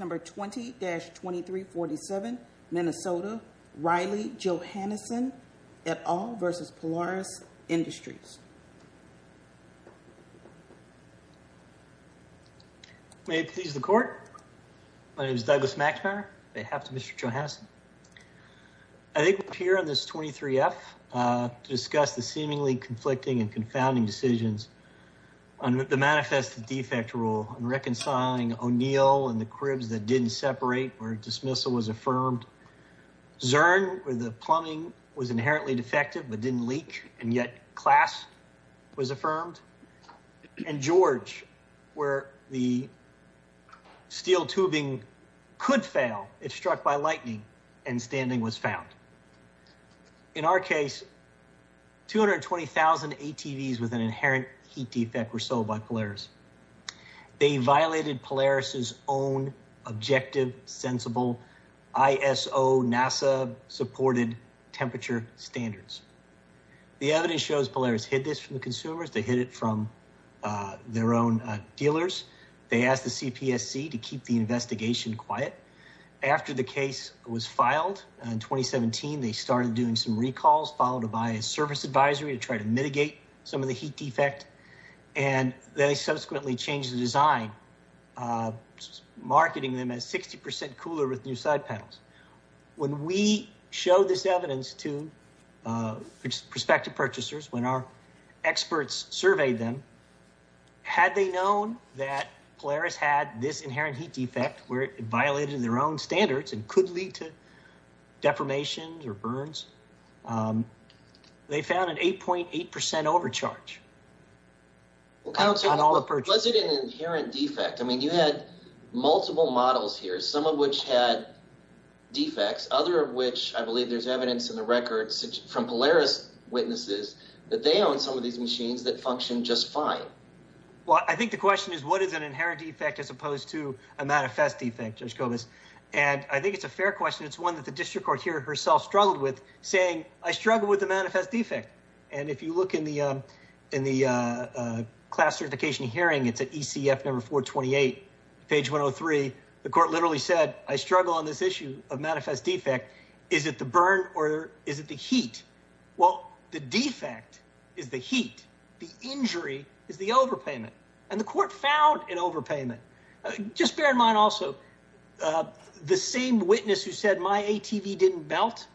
Number 20-2347, Minnesota, Riley Johannessohn et al. v. Polaris Industries. May it please the court. My name is Douglas Maxmeyer on behalf of Mr. Johannessohn. I think we're here on this 23-F to discuss the seemingly conflicting and confounding decisions under the manifest defect rule and reconciling O'Neill and the cribs that didn't separate where dismissal was affirmed. Zurn where the plumbing was inherently defective but didn't leak and yet class was affirmed. And George where the steel tubing could fail if struck by lightning and was found. In our case, 220,000 ATVs with an inherent heat defect were sold by Polaris. They violated Polaris' own objective sensible ISO NASA supported temperature standards. The evidence shows Polaris hid this from the consumers. They hid it from their own dealers. They asked the CPSC to keep the investigation quiet. After the case was filed, they started doing some recalls followed by a service advisory to try to mitigate some of the heat defect and they subsequently changed the design marketing them as 60% cooler with new side panels. When we showed this evidence to prospective purchasers, when our experts surveyed them, had they known that Polaris had this deformation or burns, they found an 8.8% overcharge on all the purchases. Was it an inherent defect? I mean, you had multiple models here, some of which had defects, other of which I believe there's evidence in the records from Polaris witnesses that they own some of these machines that function just fine. Well, I think the question is what is an inherent defect as opposed to a manifest defect? And I think it's a fair question. It's one that district court here herself struggled with saying, I struggle with the manifest defect. And if you look in the class certification hearing, it's at ECF number 428, page 103. The court literally said, I struggle on this issue of manifest defect. Is it the burn or is it the heat? Well, the defect is the heat. The injury is the overpayment and the court found an ATV didn't melt.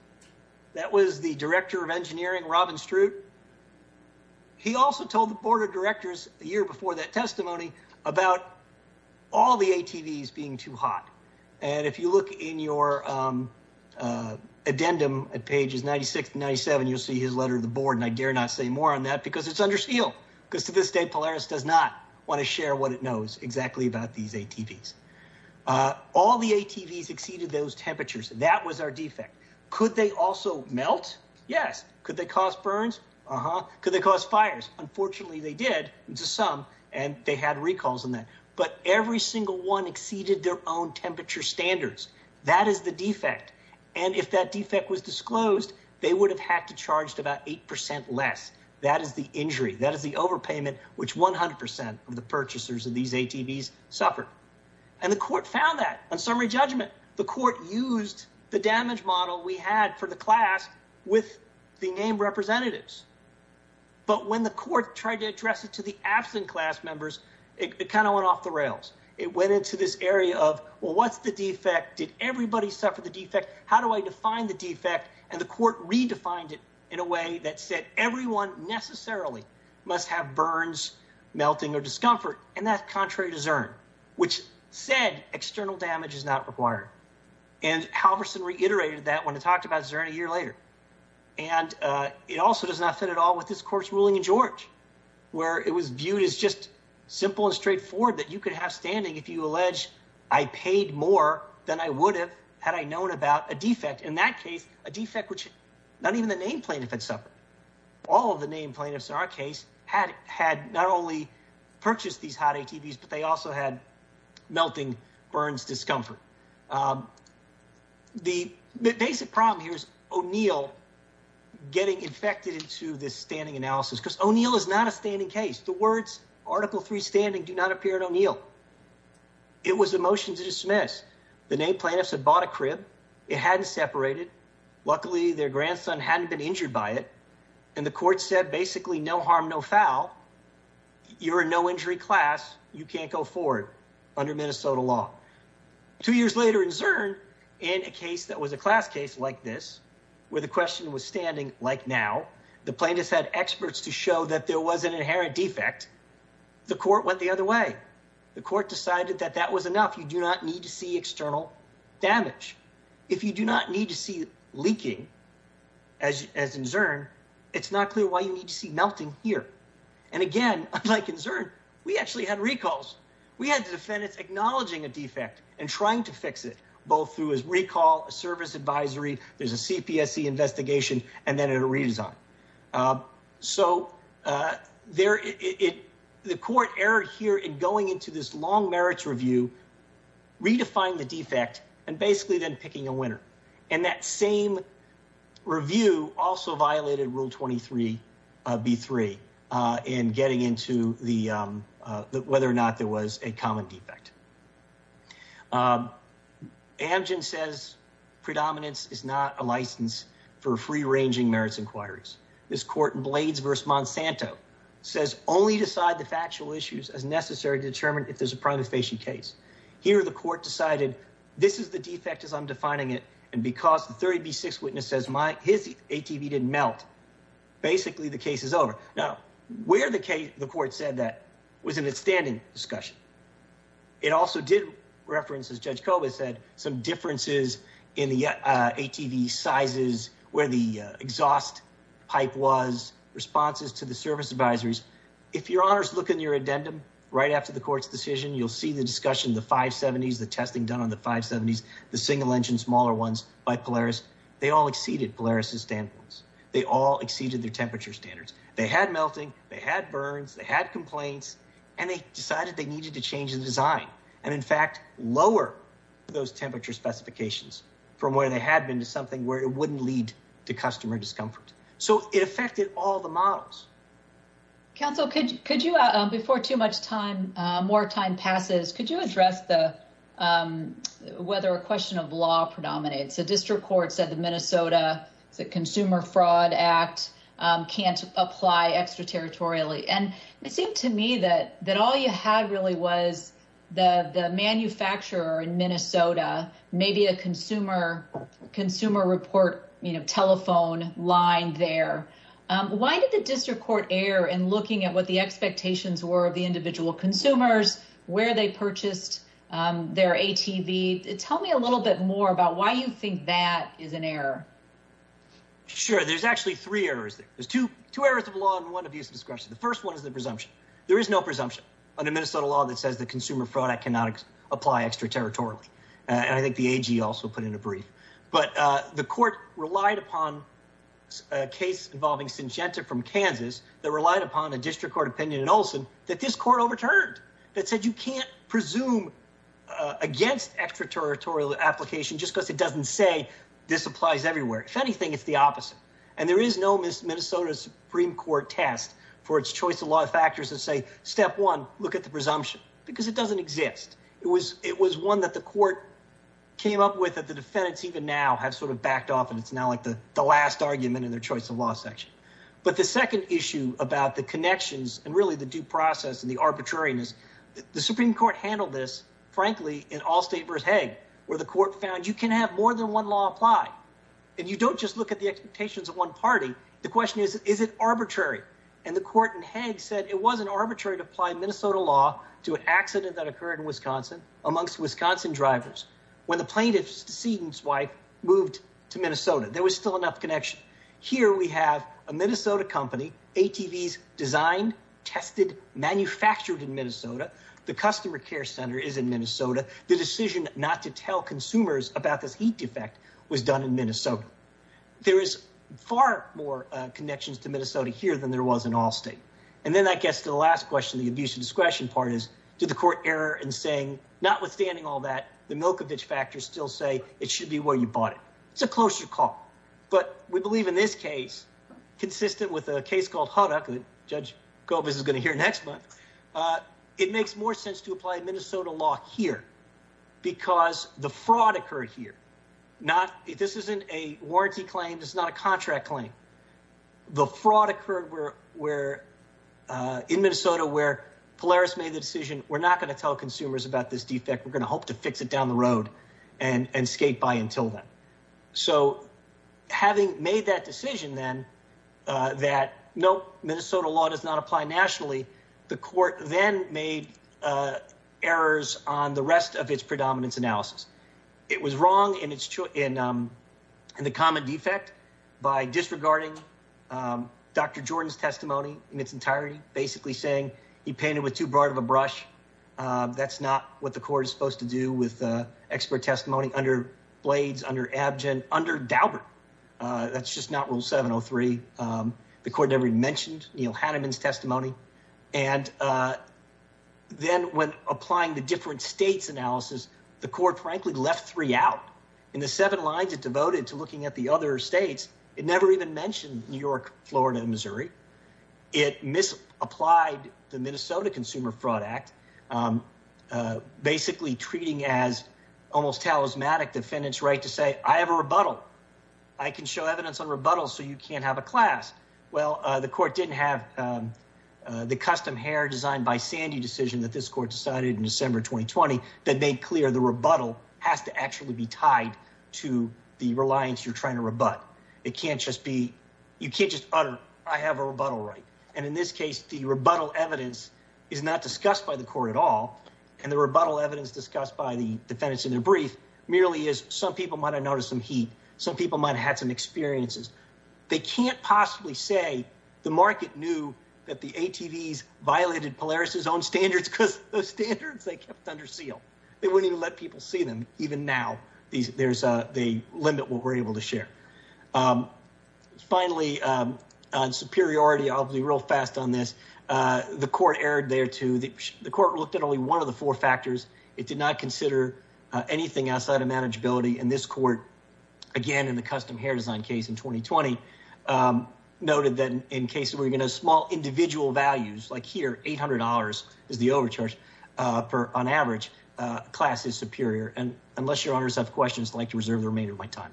That was the director of engineering, Robin Stroot. He also told the board of directors a year before that testimony about all the ATVs being too hot. And if you look in your addendum at pages 96 and 97, you'll see his letter to the board. And I dare not say more on that because it's under seal because to this day, Polaris does not want to share what it knows exactly about these ATVs. All the ATVs exceeded those temperatures. That was our defect. Could they also melt? Yes. Could they cause burns? Uh-huh. Could they cause fires? Unfortunately, they did to some and they had recalls on that, but every single one exceeded their own temperature standards. That is the defect. And if that defect was disclosed, they would have had to charged about 8% less. That is the injury. That is the overpayment, which 100% of the purchasers of these ATVs suffered. And the court found that on summary judgment, the court used the damage model we had for the class with the name representatives. But when the court tried to address it to the absent class members, it kind of went off the rails. It went into this area of, well, what's the defect? Did everybody suffer the defect? How do I define the defect? And the court redefined it in a way that said everyone necessarily must have burns, melting, or discomfort. And that's contrary to CERN, which said external damage is not required. And Halverson reiterated that when he talked about CERN a year later. And it also does not fit at all with this court's ruling in George, where it was viewed as just simple and straightforward that you could have standing if you allege I paid more than I would have had I known about a defect. In that case, a defect which not even the name plaintiff had suffered. All of the name plaintiffs in our case had not only purchased these hot ATVs, but they also had melting burns discomfort. The basic problem here is O'Neill getting infected into this standing analysis because O'Neill is not a standing case. The words Article 3 standing do not appear at O'Neill. It was a motion to dismiss. The name plaintiffs had bought a crib. It hadn't separated. Luckily, their grandson hadn't been injured by it. And the court said basically no harm, no foul. You're a no injury class. You can't go forward under Minnesota law. Two years later in CERN, in a case that was a class case like this, where the question was standing like now, the plaintiffs had experts to show that there was an inherent defect. The court went the other way. The court decided that that was enough. You do not need to see leaking as in CERN. It's not clear why you need to see melting here. And again, unlike in CERN, we actually had recalls. We had defendants acknowledging a defect and trying to fix it, both through his recall, a service advisory, there's a CPSC investigation, and then a redesign. So the court erred here in going into this long merits review, redefining the defect, and basically then picking a winner. And that same review also violated Rule 23B3 in getting into whether or not there was a common defect. Amgen says predominance is not a license for free ranging merits inquiries. This court in Blades v. Monsanto says only decide the factual issues as necessary to determine if there's a case. Here the court decided this is the defect as I'm defining it. And because the 30B6 witness says his ATV didn't melt, basically the case is over. Now, where the court said that was in its standing discussion. It also did reference, as Judge Koba said, some differences in the ATV sizes, where the exhaust pipe was, responses to the service advisories. If your honors look in your you'll see the discussion, the 570s, the testing done on the 570s, the single engine, smaller ones by Polaris, they all exceeded Polaris' standpoints. They all exceeded their temperature standards. They had melting, they had burns, they had complaints, and they decided they needed to change the design. And in fact, lower those temperature specifications from where they had been to something where it wouldn't lead to customer discomfort. So it affected all the models. Counsel, could you, before too much time, more time passes, could you address the whether a question of law predominates? The district court said the Minnesota Consumer Fraud Act can't apply extraterritorially. And it seemed to me that all you had really was the manufacturer in Minnesota, maybe a consumer report telephone line there. Why did the district court err in looking at what the expectations were of the individual consumers, where they purchased their ATV? Tell me a little bit more about why you think that is an error. Sure, there's actually three errors there. There's two errors of law and one of use of discretion. The first one is the presumption. There is no presumption under Minnesota law that says the Consumer Fraud Act cannot apply extraterritorially. And I think the AG also put in a brief. But the court relied upon a case involving Syngenta from Kansas that relied upon a district court opinion in Olson that this court overturned, that said you can't presume against extraterritorial application just because it doesn't say this applies everywhere. If anything, it's the opposite. And there is no Minnesota Supreme Court test for its choice of law factors that say, step one, look at the presumption, because it doesn't exist. It was one that the court came up with that the defendants even now have sort of backed off. And it's now like the last argument in their choice of law section. But the second issue about the connections and really the due process and the arbitrariness, the Supreme Court handled this, frankly, in Allstate versus Hague, where the court found you can have more than one law apply. And you don't just look at the expectations of one party. The question is, is it arbitrary? And the court in Hague said it wasn't arbitrary to apply Minnesota law to an accident that occurred in Wisconsin amongst Wisconsin drivers when the plaintiff's decedent's wife moved to Minnesota. There was still enough connection. Here we have a Minnesota company, ATVs designed, tested, manufactured in Minnesota. The customer care center is in Minnesota. The decision not to tell consumers about this heat defect was done in Minnesota. There is far more connections to Minnesota here than there was in Allstate. And then that gets to the last question, the abuse of discretion part is, did the court error in saying, notwithstanding all that, the Milkovich factors still say it should be where you bought it? It's a closer call. But we believe in this case, consistent with a case called Huddock, that Judge Kobes is going to hear next month, it makes more sense to apply Minnesota law here because the fraud occurred here. This isn't a warranty claim. It's not a contract claim. The fraud occurred where, in Minnesota, where Polaris made the decision, we're not going to tell consumers about this defect. We're going to hope to fix it down the road and skate by until then. So having made that decision then that, nope, Minnesota law does not apply nationally, the court then made errors on the rest of its predominance analysis. It was wrong in the common defect by disregarding Dr. Jordan's testimony in its entirety, basically saying he painted with too broad of a brush. That's not what the court is supposed to do with expert testimony under Blades, under Abgen, under Daubert. That's just not rule 703. The court never mentioned Neil Hanneman's testimony. And then when applying the different states analysis, the court frankly left three out. In the seven lines it devoted to looking at the other states, it never even mentioned New York, Florida, and Missouri. It misapplied the Minnesota Consumer Fraud Act, basically treating as almost talismanic defendant's right to say, I have a rebuttal. I can show evidence on rebuttals so you can't have a class. Well, the court didn't have the custom hair designed by Sandy decision that this court decided in December 2020 that made clear the actually be tied to the reliance you're trying to rebut. It can't just be, you can't just utter, I have a rebuttal right. And in this case, the rebuttal evidence is not discussed by the court at all. And the rebuttal evidence discussed by the defendants in their brief merely is some people might've noticed some heat. Some people might've had some experiences. They can't possibly say the market knew that the ATVs violated Polaris's own standards because those standards they kept under seal. They wouldn't even let people see them. Even now, there's a limit we're able to share. Finally, on superiority, I'll be real fast on this. The court erred there too. The court looked at only one of the four factors. It did not consider anything outside of manageability. And this court, again, in the custom hair design case in 2020, noted that in cases where you're overcharged on average, class is superior. And unless your honors have questions, I'd like to reserve the remainder of my time.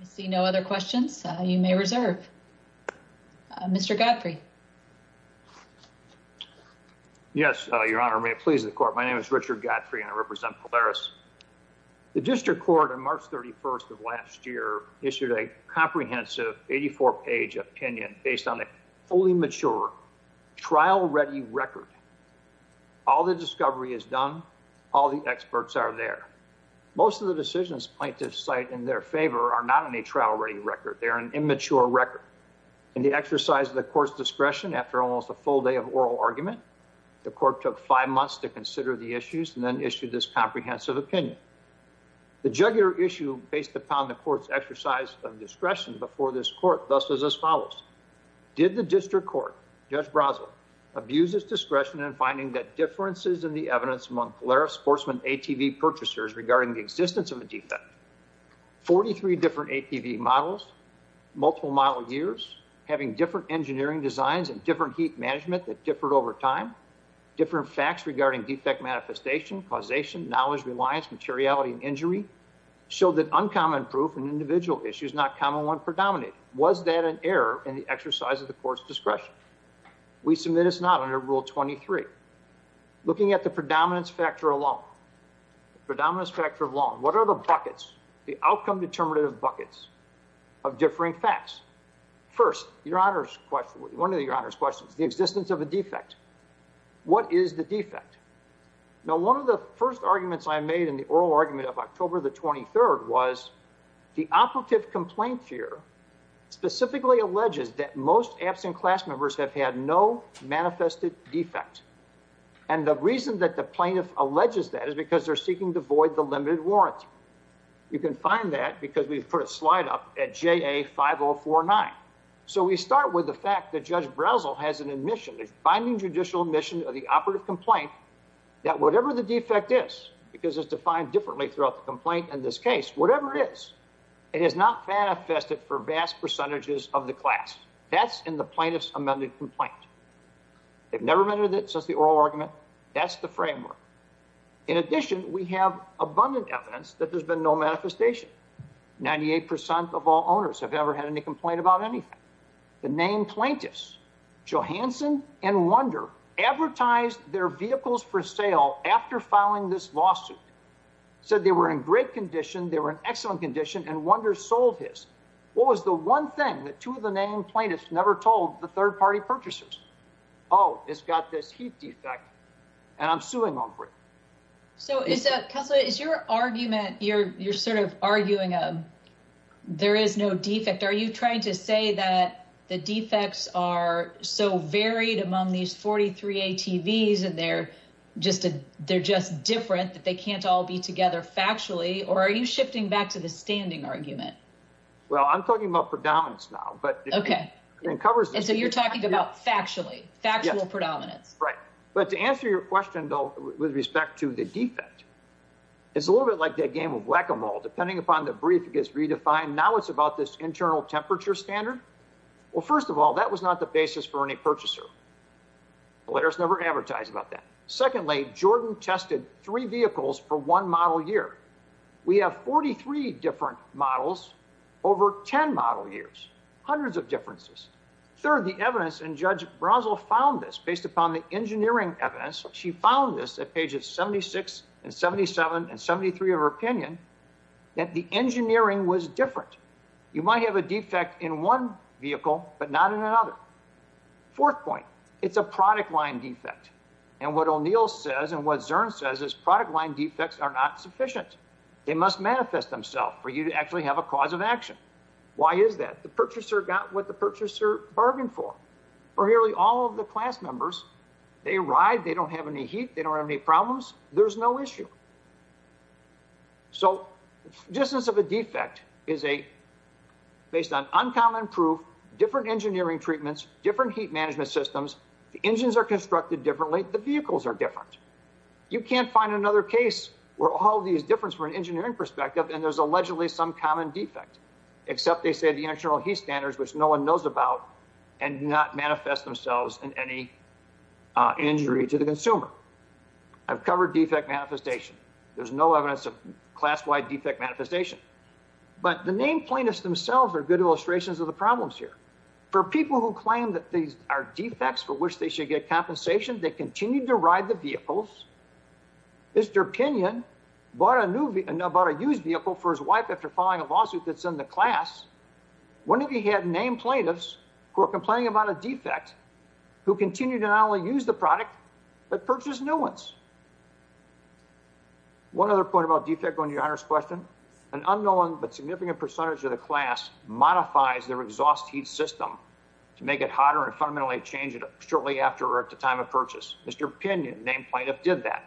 I see no other questions you may reserve. Mr. Godfrey. Yes, your honor, may it please the court. My name is Richard Godfrey and I represent Polaris. The district court on March 31st of last year issued a comprehensive 84 page opinion based on fully mature, trial-ready record. All the discovery is done. All the experts are there. Most of the decisions plaintiffs cite in their favor are not in a trial-ready record. They're an immature record. In the exercise of the court's discretion after almost a full day of oral argument, the court took five months to consider the issues and then issued this comprehensive opinion. The jugular issue based upon the court's exercise of discretion before this court, thus follows. Did the district court, Judge Brasel, abuse its discretion in finding that differences in the evidence among Polaris sportsman ATV purchasers regarding the existence of a defect? 43 different ATV models, multiple model years, having different engineering designs and different heat management that differed over time, different facts regarding defect manifestation, causation, knowledge, reliance, materiality, and injury, showed that uncommon proof in individual issues, not common one predominated. Was that an error in the exercise of the court's discretion? We submit it's not under rule 23. Looking at the predominance factor alone, the predominance factor alone, what are the buckets, the outcome determinative buckets of differing facts? First, your honor's question, one of your honor's questions, the existence of a defect. What is the defect? Now, one of the first arguments I made in the complaint here, specifically alleges that most absent class members have had no manifested defect. And the reason that the plaintiff alleges that is because they're seeking to void the limited warrant. You can find that because we've put a slide up at JA 5049. So we start with the fact that Judge Brasel has an admission, a binding judicial admission of the operative complaint that whatever the defect is, because it's defined differently throughout the complaint in this case, whatever it is, it has not manifested for vast percentages of the class. That's in the plaintiff's amended complaint. They've never amended it since the oral argument. That's the framework. In addition, we have abundant evidence that there's been no manifestation. 98% of all owners have never had any complaint about anything. The name plaintiffs, Johansson and Wonder, advertised their vehicles for sale after filing this lawsuit, said they were in great condition, excellent condition, and Wonder sold his. What was the one thing that two of the name plaintiffs never told the third party purchasers? Oh, it's got this heat defect and I'm suing them for it. So, Counselor, is your argument, you're sort of arguing there is no defect. Are you trying to say that the defects are so varied among these 43 ATVs and they're just different that they can't all be together factually? Or are you shifting back to the standing argument? Well, I'm talking about predominance now. Okay. So you're talking about factually, factual predominance. Right. But to answer your question, though, with respect to the defect, it's a little bit like that game of whack-a-mole. Depending upon the brief, it gets redefined. Now it's about this internal temperature standard. Well, first of all, that was not the basis for any purchaser. Polaris never advertised about that. Secondly, Jordan tested three vehicles for one model year. We have 43 different models over 10 model years, hundreds of differences. Third, the evidence, and Judge Brazel found this based upon the engineering evidence. She found this at pages 76 and 77 and 73 of her opinion that the engineering was different. You might have a defect in one Fourth point, it's a product line defect. And what O'Neill says and what Zurn says is product line defects are not sufficient. They must manifest themselves for you to actually have a cause of action. Why is that? The purchaser got what the purchaser bargained for. For nearly all of the class members, they ride, they don't have any heat, they don't have any problems. There's no issue. So the existence of a defect is based on uncommon proof, different engineering treatments, different heat management systems, the engines are constructed differently, the vehicles are different. You can't find another case where all these differences from an engineering perspective and there's allegedly some common defect, except they say the internal heat standards, which no one knows about, and do not manifest themselves in any injury to the consumer. I've covered defect manifestation. There's no evidence of class-wide defect manifestation, but the named plaintiffs themselves are good illustrations of the problems here. For people who claim that these are defects for which they should get compensation, they continued to ride the vehicles. Mr. Pinion bought a used vehicle for his wife after following a lawsuit that's in the class. One of you had named plaintiffs who are complaining about a defect who continued to not only use the product, but purchase new ones. One other point about defect going to your honors question, an unknown but significant percentage of the class modifies their exhaust heat system to make it hotter and fundamentally change it shortly after or at the time of purchase. Mr. Pinion, named plaintiff, did that.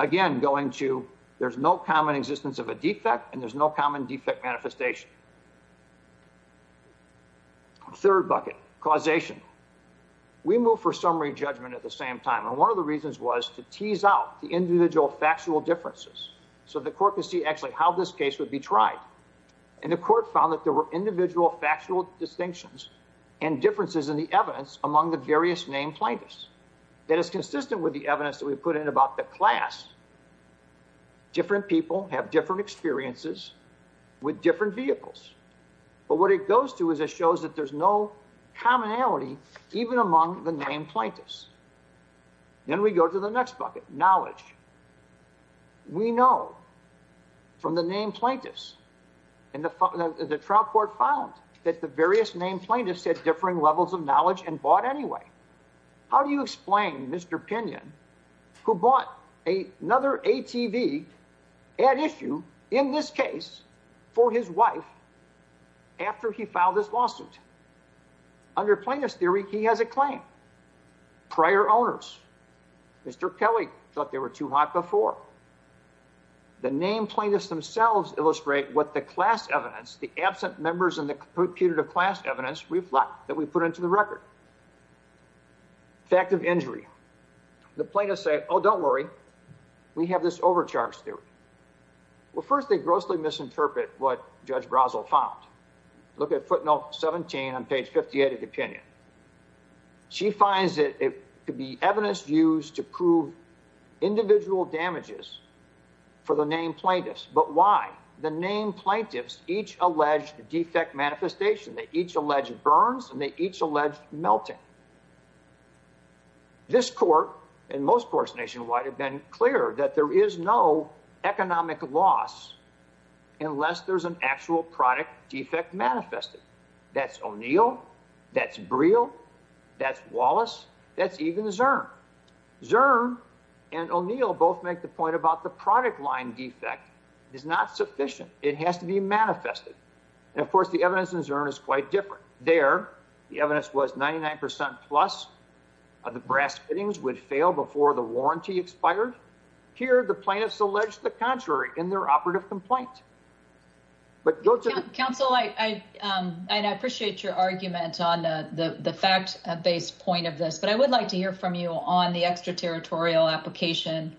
Again, going to there's no common existence of a defect and there's no common defect manifestation. Third bucket, causation. We move for summary judgment at the same time. One of the reasons was to tease out the individual factual differences so the court could see actually how this case would be tried. The court found that there were individual factual distinctions and differences in the evidence among the various named plaintiffs. That is consistent with the evidence that we put in about the class. Different people have different experiences with different vehicles. But what it goes to is it shows that there's no commonality even among the named plaintiffs. Then we go to the next bucket, knowledge. We know from the named plaintiffs and the trial court found that the various named plaintiffs had differing levels of knowledge and bought anyway. How do you explain Mr. Pinion who bought another ATV at issue in this case for his wife after he filed this lawsuit? Under plaintiff's theory, he has a claim. Prior owners, Mr. Kelly thought they were too hot before. The named plaintiffs themselves illustrate what the class evidence, the absent members in the computed class evidence reflect that we put into the record. Fact of injury. The plaintiffs say, don't worry. We have this overcharge theory. First, they grossly misinterpret what Judge Brazel found. Look at footnote 17 on page 58 of the opinion. She finds that it could be evidence used to prove individual damages for the named plaintiffs. But why? The named plaintiffs each allege defect manifestation. They each allege burns and they each allege melting. This court and most courts nationwide have been clear that there is no economic loss unless there's an actual product defect manifested. That's O'Neill. That's Briel. That's Wallace. That's even Zurn. Zurn and O'Neill both make the point about the product line defect is not sufficient. It has to be manifested. And of course, the evidence in Zurn is quite different. There, the evidence was 99% plus. The brass fittings would fail before the warranty expired. Here, the plaintiffs allege the contrary in their operative complaint. Counsel, I appreciate your argument on the fact-based point of this, but I would like to hear from you on the extraterritorial application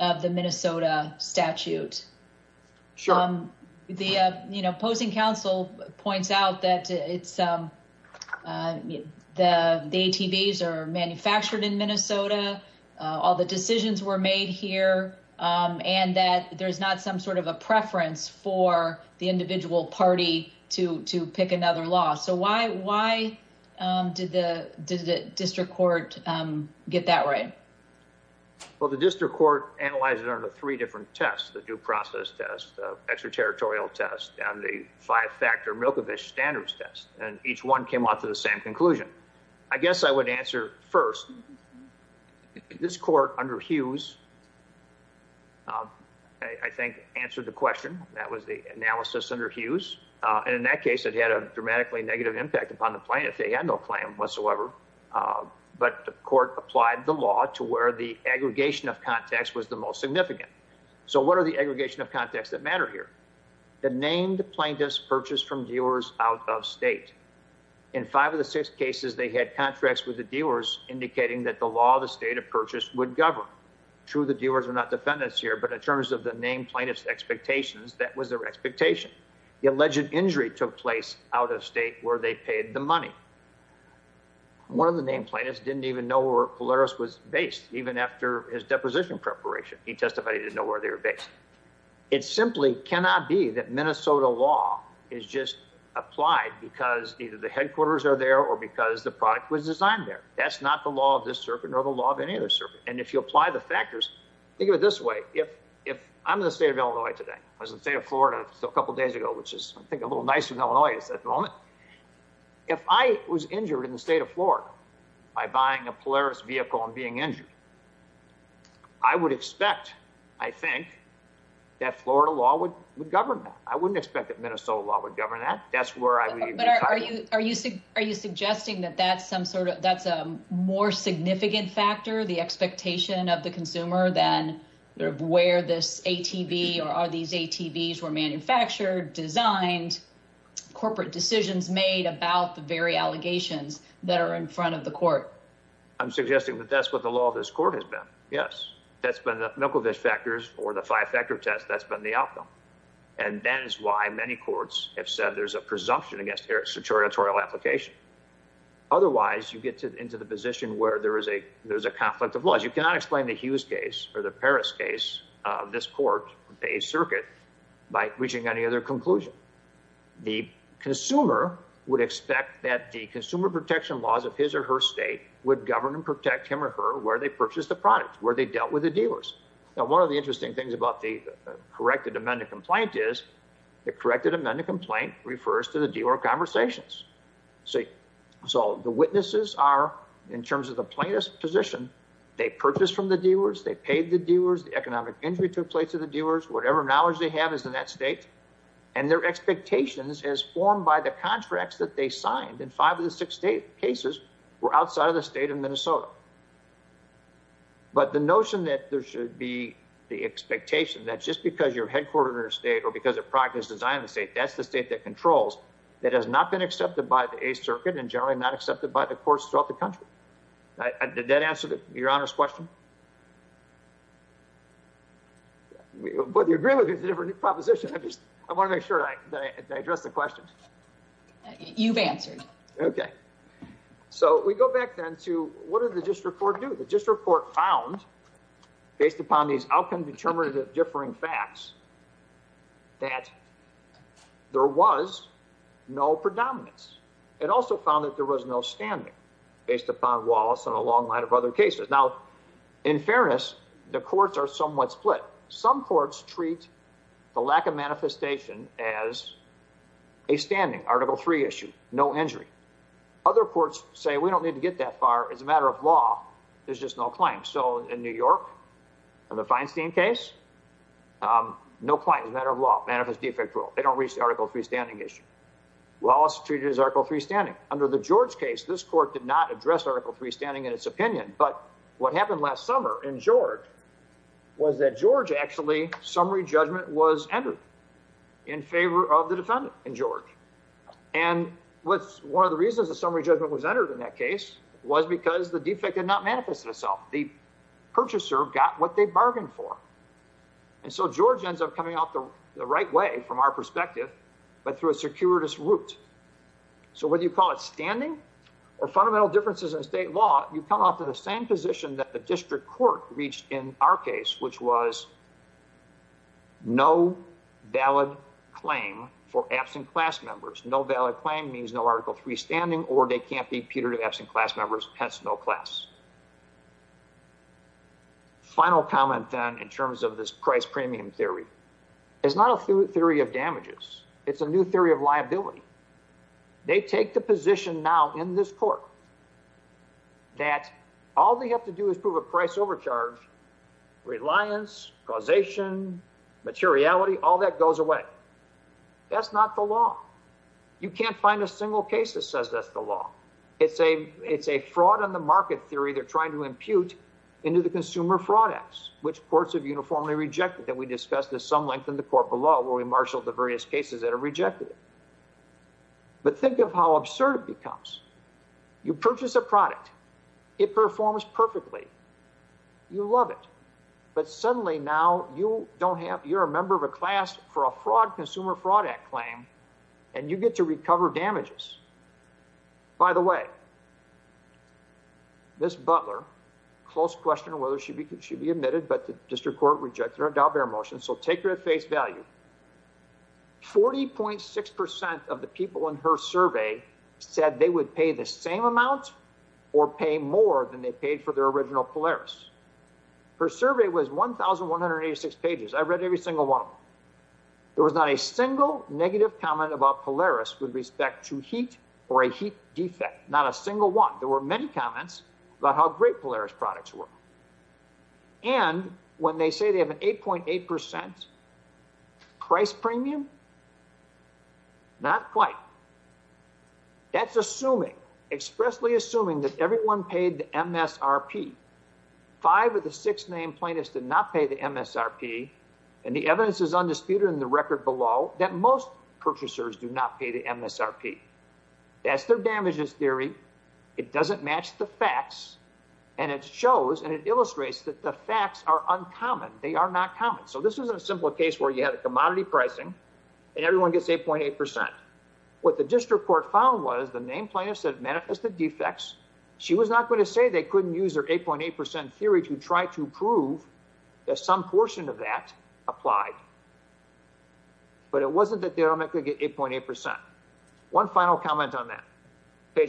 of the Minnesota statute. Sure. The opposing counsel points out that the ATVs are manufactured in Minnesota, all the decisions were made here, and that there's not some sort of a preference for the individual party to pick another law. So why did the district court get that right? Well, the district court analyzed it under three different tests, the due process test, the extraterritorial test, and the five-factor Milkovich standards test. And each one came out to the same conclusion. I guess I would answer first, this court under Hughes, I think, answered the question. That was the analysis under Hughes. And in that case, it had a dramatically negative impact upon the plaintiff. They had no claim whatsoever. But the court applied the law to where the aggregation of contacts was the most significant. So what are the aggregation of contacts that matter here? The named plaintiffs purchased from dealers out of state. In five of the six cases, they had contracts with the dealers, indicating that the law of the state of purchase would govern. True, the dealers were not defendants here, but in terms of the named plaintiffs' expectations, that was their expectation. The alleged injury took place out of state, where they paid the money. One of the named plaintiffs didn't even know where Polaris was based, even after his deposition preparation. He testified he didn't know where they were based. It simply cannot be that Minnesota law is just applied because either the headquarters are there or because the product was designed there. That's not the law of this circuit nor the law of any other circuit. And if you apply the factors, think of it this way. If I'm in the state of Illinois today, I was in the state of Florida a couple of days ago, which is I think a little nicer than Illinois is at the moment. If I was injured in the state of Florida by buying a Polaris vehicle and being injured, I would expect, I think, that Florida law would govern that. I wouldn't expect that Minnesota law would govern that. That's where I would be. But are you suggesting that that's a more significant factor, the expectation of the consumer than where this ATV or are these ATVs were manufactured, designed, corporate decisions made about the very allegations that are in front of the court? I'm suggesting that that's what the law of this court has been. Yes, that's been the Milkovich factors or the five-factor test. That's been the outcome. And that is why many courts have said there's a presumption against their sartoriatorial application. Otherwise, you get into the position where there is a conflict of laws. You cannot explain the Hughes case or the Paris case, this court, the Eighth Circuit, by reaching any other conclusion. The consumer would expect that the consumer protection laws of his or her state would govern and protect him or her where they purchased the product, where they dealt with the dealers. Now, one of the interesting things about the corrected amendment complaint is the corrected amendment complaint refers to the dealer conversations. So the witnesses are, in terms of the plaintiff's position, they purchased from the dealers, they paid the dealers, the economic injury took place to the dealers, whatever knowledge they have is in that state. And their expectations as formed by the contracts that they signed in five of the six cases were outside of the state of Minnesota. But the notion that there should be the expectation that just because you're headquartered in a state or because that's the state that controls, that has not been accepted by the Eighth Circuit and generally not accepted by the courts throughout the country. Did that answer your Honor's question? But the agreement is a different proposition. I want to make sure that I address the question. You've answered. Okay. So we go back then to what does the GIST report do? The GIST report found, based upon these outcome-determinative differing facts, that there was no predominance. It also found that there was no standing, based upon Wallace and a long line of other cases. Now, in fairness, the courts are somewhat split. Some courts treat the lack of manifestation as a standing, Article III issue, no injury. Other courts say we don't need to get that far, it's a matter of law, there's just no claim. So in New York, in the Feinstein case, no claim, it's a matter of law, manifest defect rule. They don't reach the Article III standing issue. Wallace treated it as Article III standing. Under the George case, this court did not address Article III standing in its opinion, but what happened last summer in George was that George, actually, summary judgment was entered in favor of the defendant in George. And one of the reasons the summary judgment was entered in that case was because the defect did not manifest itself. The purchaser got what they bargained for. And so George ends up coming out the right way, from our perspective, but through a circuitous route. So whether you call it standing or fundamental differences in state law, you come off to the same position that the district court reached in our case, which was no valid claim for absent class members. No valid claim means no Article III standing, or they can't be putative absent class members, hence no class. Final comment, then, in terms of this price premium theory. It's not a theory of damages, it's a new theory of liability. They take the position now in this court that all they have to do is prove a price overcharge, reliance, causation, materiality, all that goes away. That's not the law. You can't find a single case that says that's the law. It's a fraud on the market theory they're trying to impute into the consumer fraud acts, which courts have uniformly rejected, that we discussed at some length in the court below, where we marshaled the various cases that have rejected it. But think of how absurd it becomes. You purchase a product. It performs perfectly. You love it. But suddenly now you don't have, you're a member of a class for a fraud consumer fraud act claim, and you get to recover damages. By the way, Ms. Butler, close question on whether she should be admitted, but the district court rejected our Dalbert motion, so take her at face value. 40.6% of the people in her survey said they would pay the same amount or pay more than they paid for their original Polaris. Her survey was 1,186 pages. I read every single one of them. There was not a single negative comment about Polaris with respect to heat or a heat defect. Not a single one. There were many comments about how great Polaris products were. And when they say they have an 8.8% price premium, not quite. That's assuming, expressly assuming that everyone paid the MSRP. Five of the six named plaintiffs did not pay the MSRP, and the evidence is undisputed in the record below that most purchasers do not pay the MSRP. That's their damages theory. It doesn't match the facts, and it shows and it illustrates that the facts are uncommon. They are not common. So this is a simple case where you had a commodity pricing and everyone gets 8.8%. What the district court found was the named plaintiffs had manifested defects. She was not going to say they couldn't use their 8.8% theory to try to prove that some portion of that applied. But it wasn't that they could get 8.8%. One final comment on that.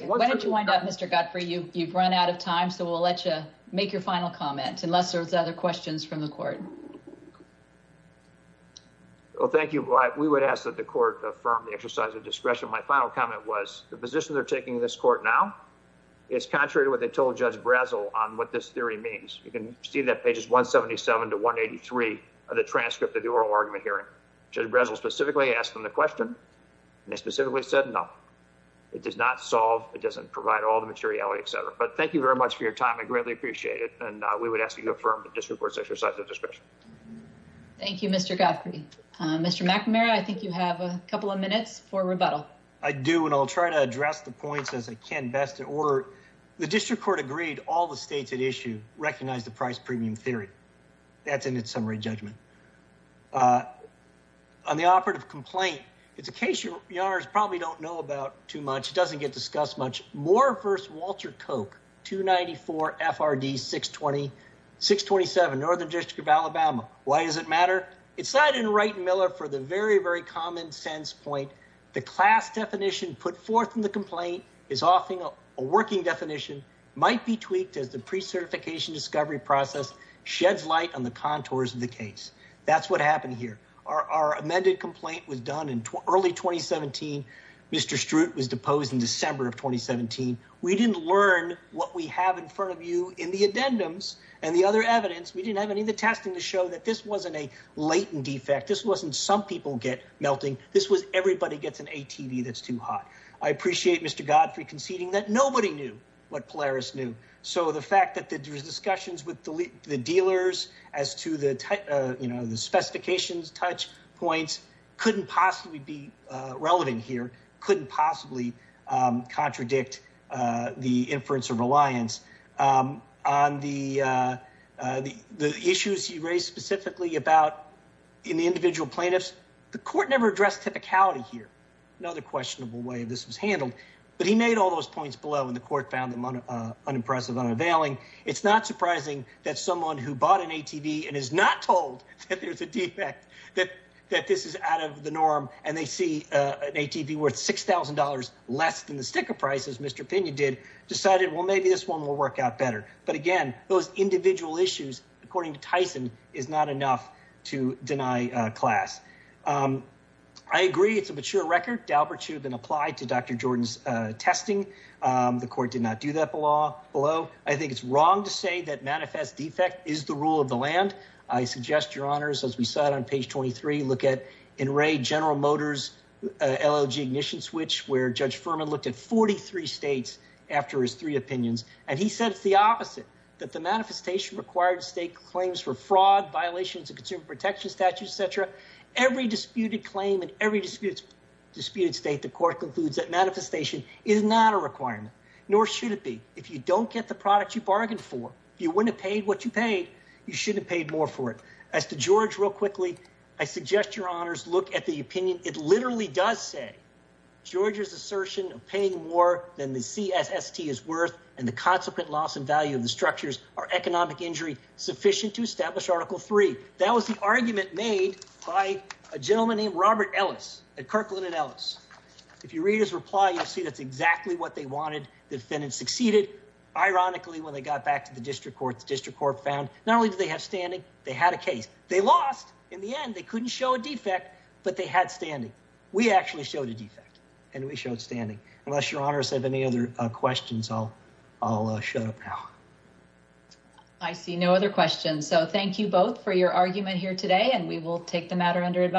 Why don't you wind up, Mr. Guthrie? You've run out of time, so we'll let you make your final comment unless there's other questions from the audience. Well, thank you. We would ask that the court affirm the exercise of discretion. My final comment was the position they're taking in this court now is contrary to what they told Judge Brazel on what this theory means. You can see that pages 177 to 183 of the transcript of the oral argument hearing. Judge Brazel specifically asked them the question, and they specifically said no. It does not solve, it doesn't provide all the materiality, etc. But thank you very much for your time. I greatly appreciate it, and we would ask that you affirm the district court's exercise of discretion. Thank you, Mr. Guthrie. Mr. McNamara, I think you have a couple of minutes for rebuttal. I do, and I'll try to address the points as I can best in order. The district court agreed all the states at issue recognize the price premium theory. That's in its summary judgment. On the operative complaint, it's a case you probably don't know about too much. It doesn't get discussed much. Moore v. Walter Koch, 294 FRD 627, Northern District of Alabama. Why does it matter? It's cited in Wright and Miller for the very, very common sense point. The class definition put forth in the complaint is often a working definition, might be tweaked as the pre-certification discovery process sheds light on the contours of the case. That's what happened here. Our amended complaint was done in early 2017. Mr. Stroot was deposed in December of 2017. We didn't learn what we have in front of you in the addendums and the other evidence. We didn't have any of the testing to show that this wasn't a latent defect. This wasn't some people get melting. This was everybody gets an ATV that's too hot. I appreciate Mr. Guthrie conceding that nobody knew what Polaris knew. So the fact that there's discussions with the dealers as to the specifications touch points couldn't possibly be relevant here, couldn't possibly contradict the inference of reliance on the issues you raised specifically about in the individual plaintiffs. The court never addressed typicality here. Another questionable way this was handled, but he made all those points below and the court found them unimpressive, unavailing. It's not surprising that someone who bought an ATV and is not told that there's a defect, that this is out of the norm and they see an ATV worth $6,000 less than the sticker price as Mr. Pena did, decided, well, maybe this one will work out better. But again, those individual issues, according to Tyson, is not enough to deny class. I agree it's a mature record. Dalbert should have been applied to Dr. Jordan's testing. The court did not do that below. I think it's wrong to say that manifest defect is the rule of the land. I suggest, your honors, as we sat on page 23, look at in Ray General Motors, LLG ignition switch, where Judge Furman looked at 43 states after his three opinions. And he said it's the opposite, that the manifestation required state claims for fraud, violations of consumer protection statutes, et cetera. Every disputed claim in every disputed state, the court concludes that manifestation is not a requirement, nor should it be. If you don't get the product you bargained for, you wouldn't have paid what you paid. You shouldn't have paid more for it. As to George, real quickly, I suggest your honors look at the opinion. It literally does say George's assertion of paying more than the CST is worth and the consequent loss in value of the structures are economic injury sufficient to establish Article 3. That was the argument made by a gentleman named Robert Ellis at Kirkland and Ellis. If you read his reply, you'll see that's exactly what they wanted. The defendant succeeded. Ironically, when they got back to the district court, the district court found not only did they have standing, they had a case. They lost. In the end, they couldn't show a defect, but they had standing. We actually showed a defect and we showed standing. Unless your honors have any other questions, I'll shut up now. I see no other questions. Thank you both for your argument here today.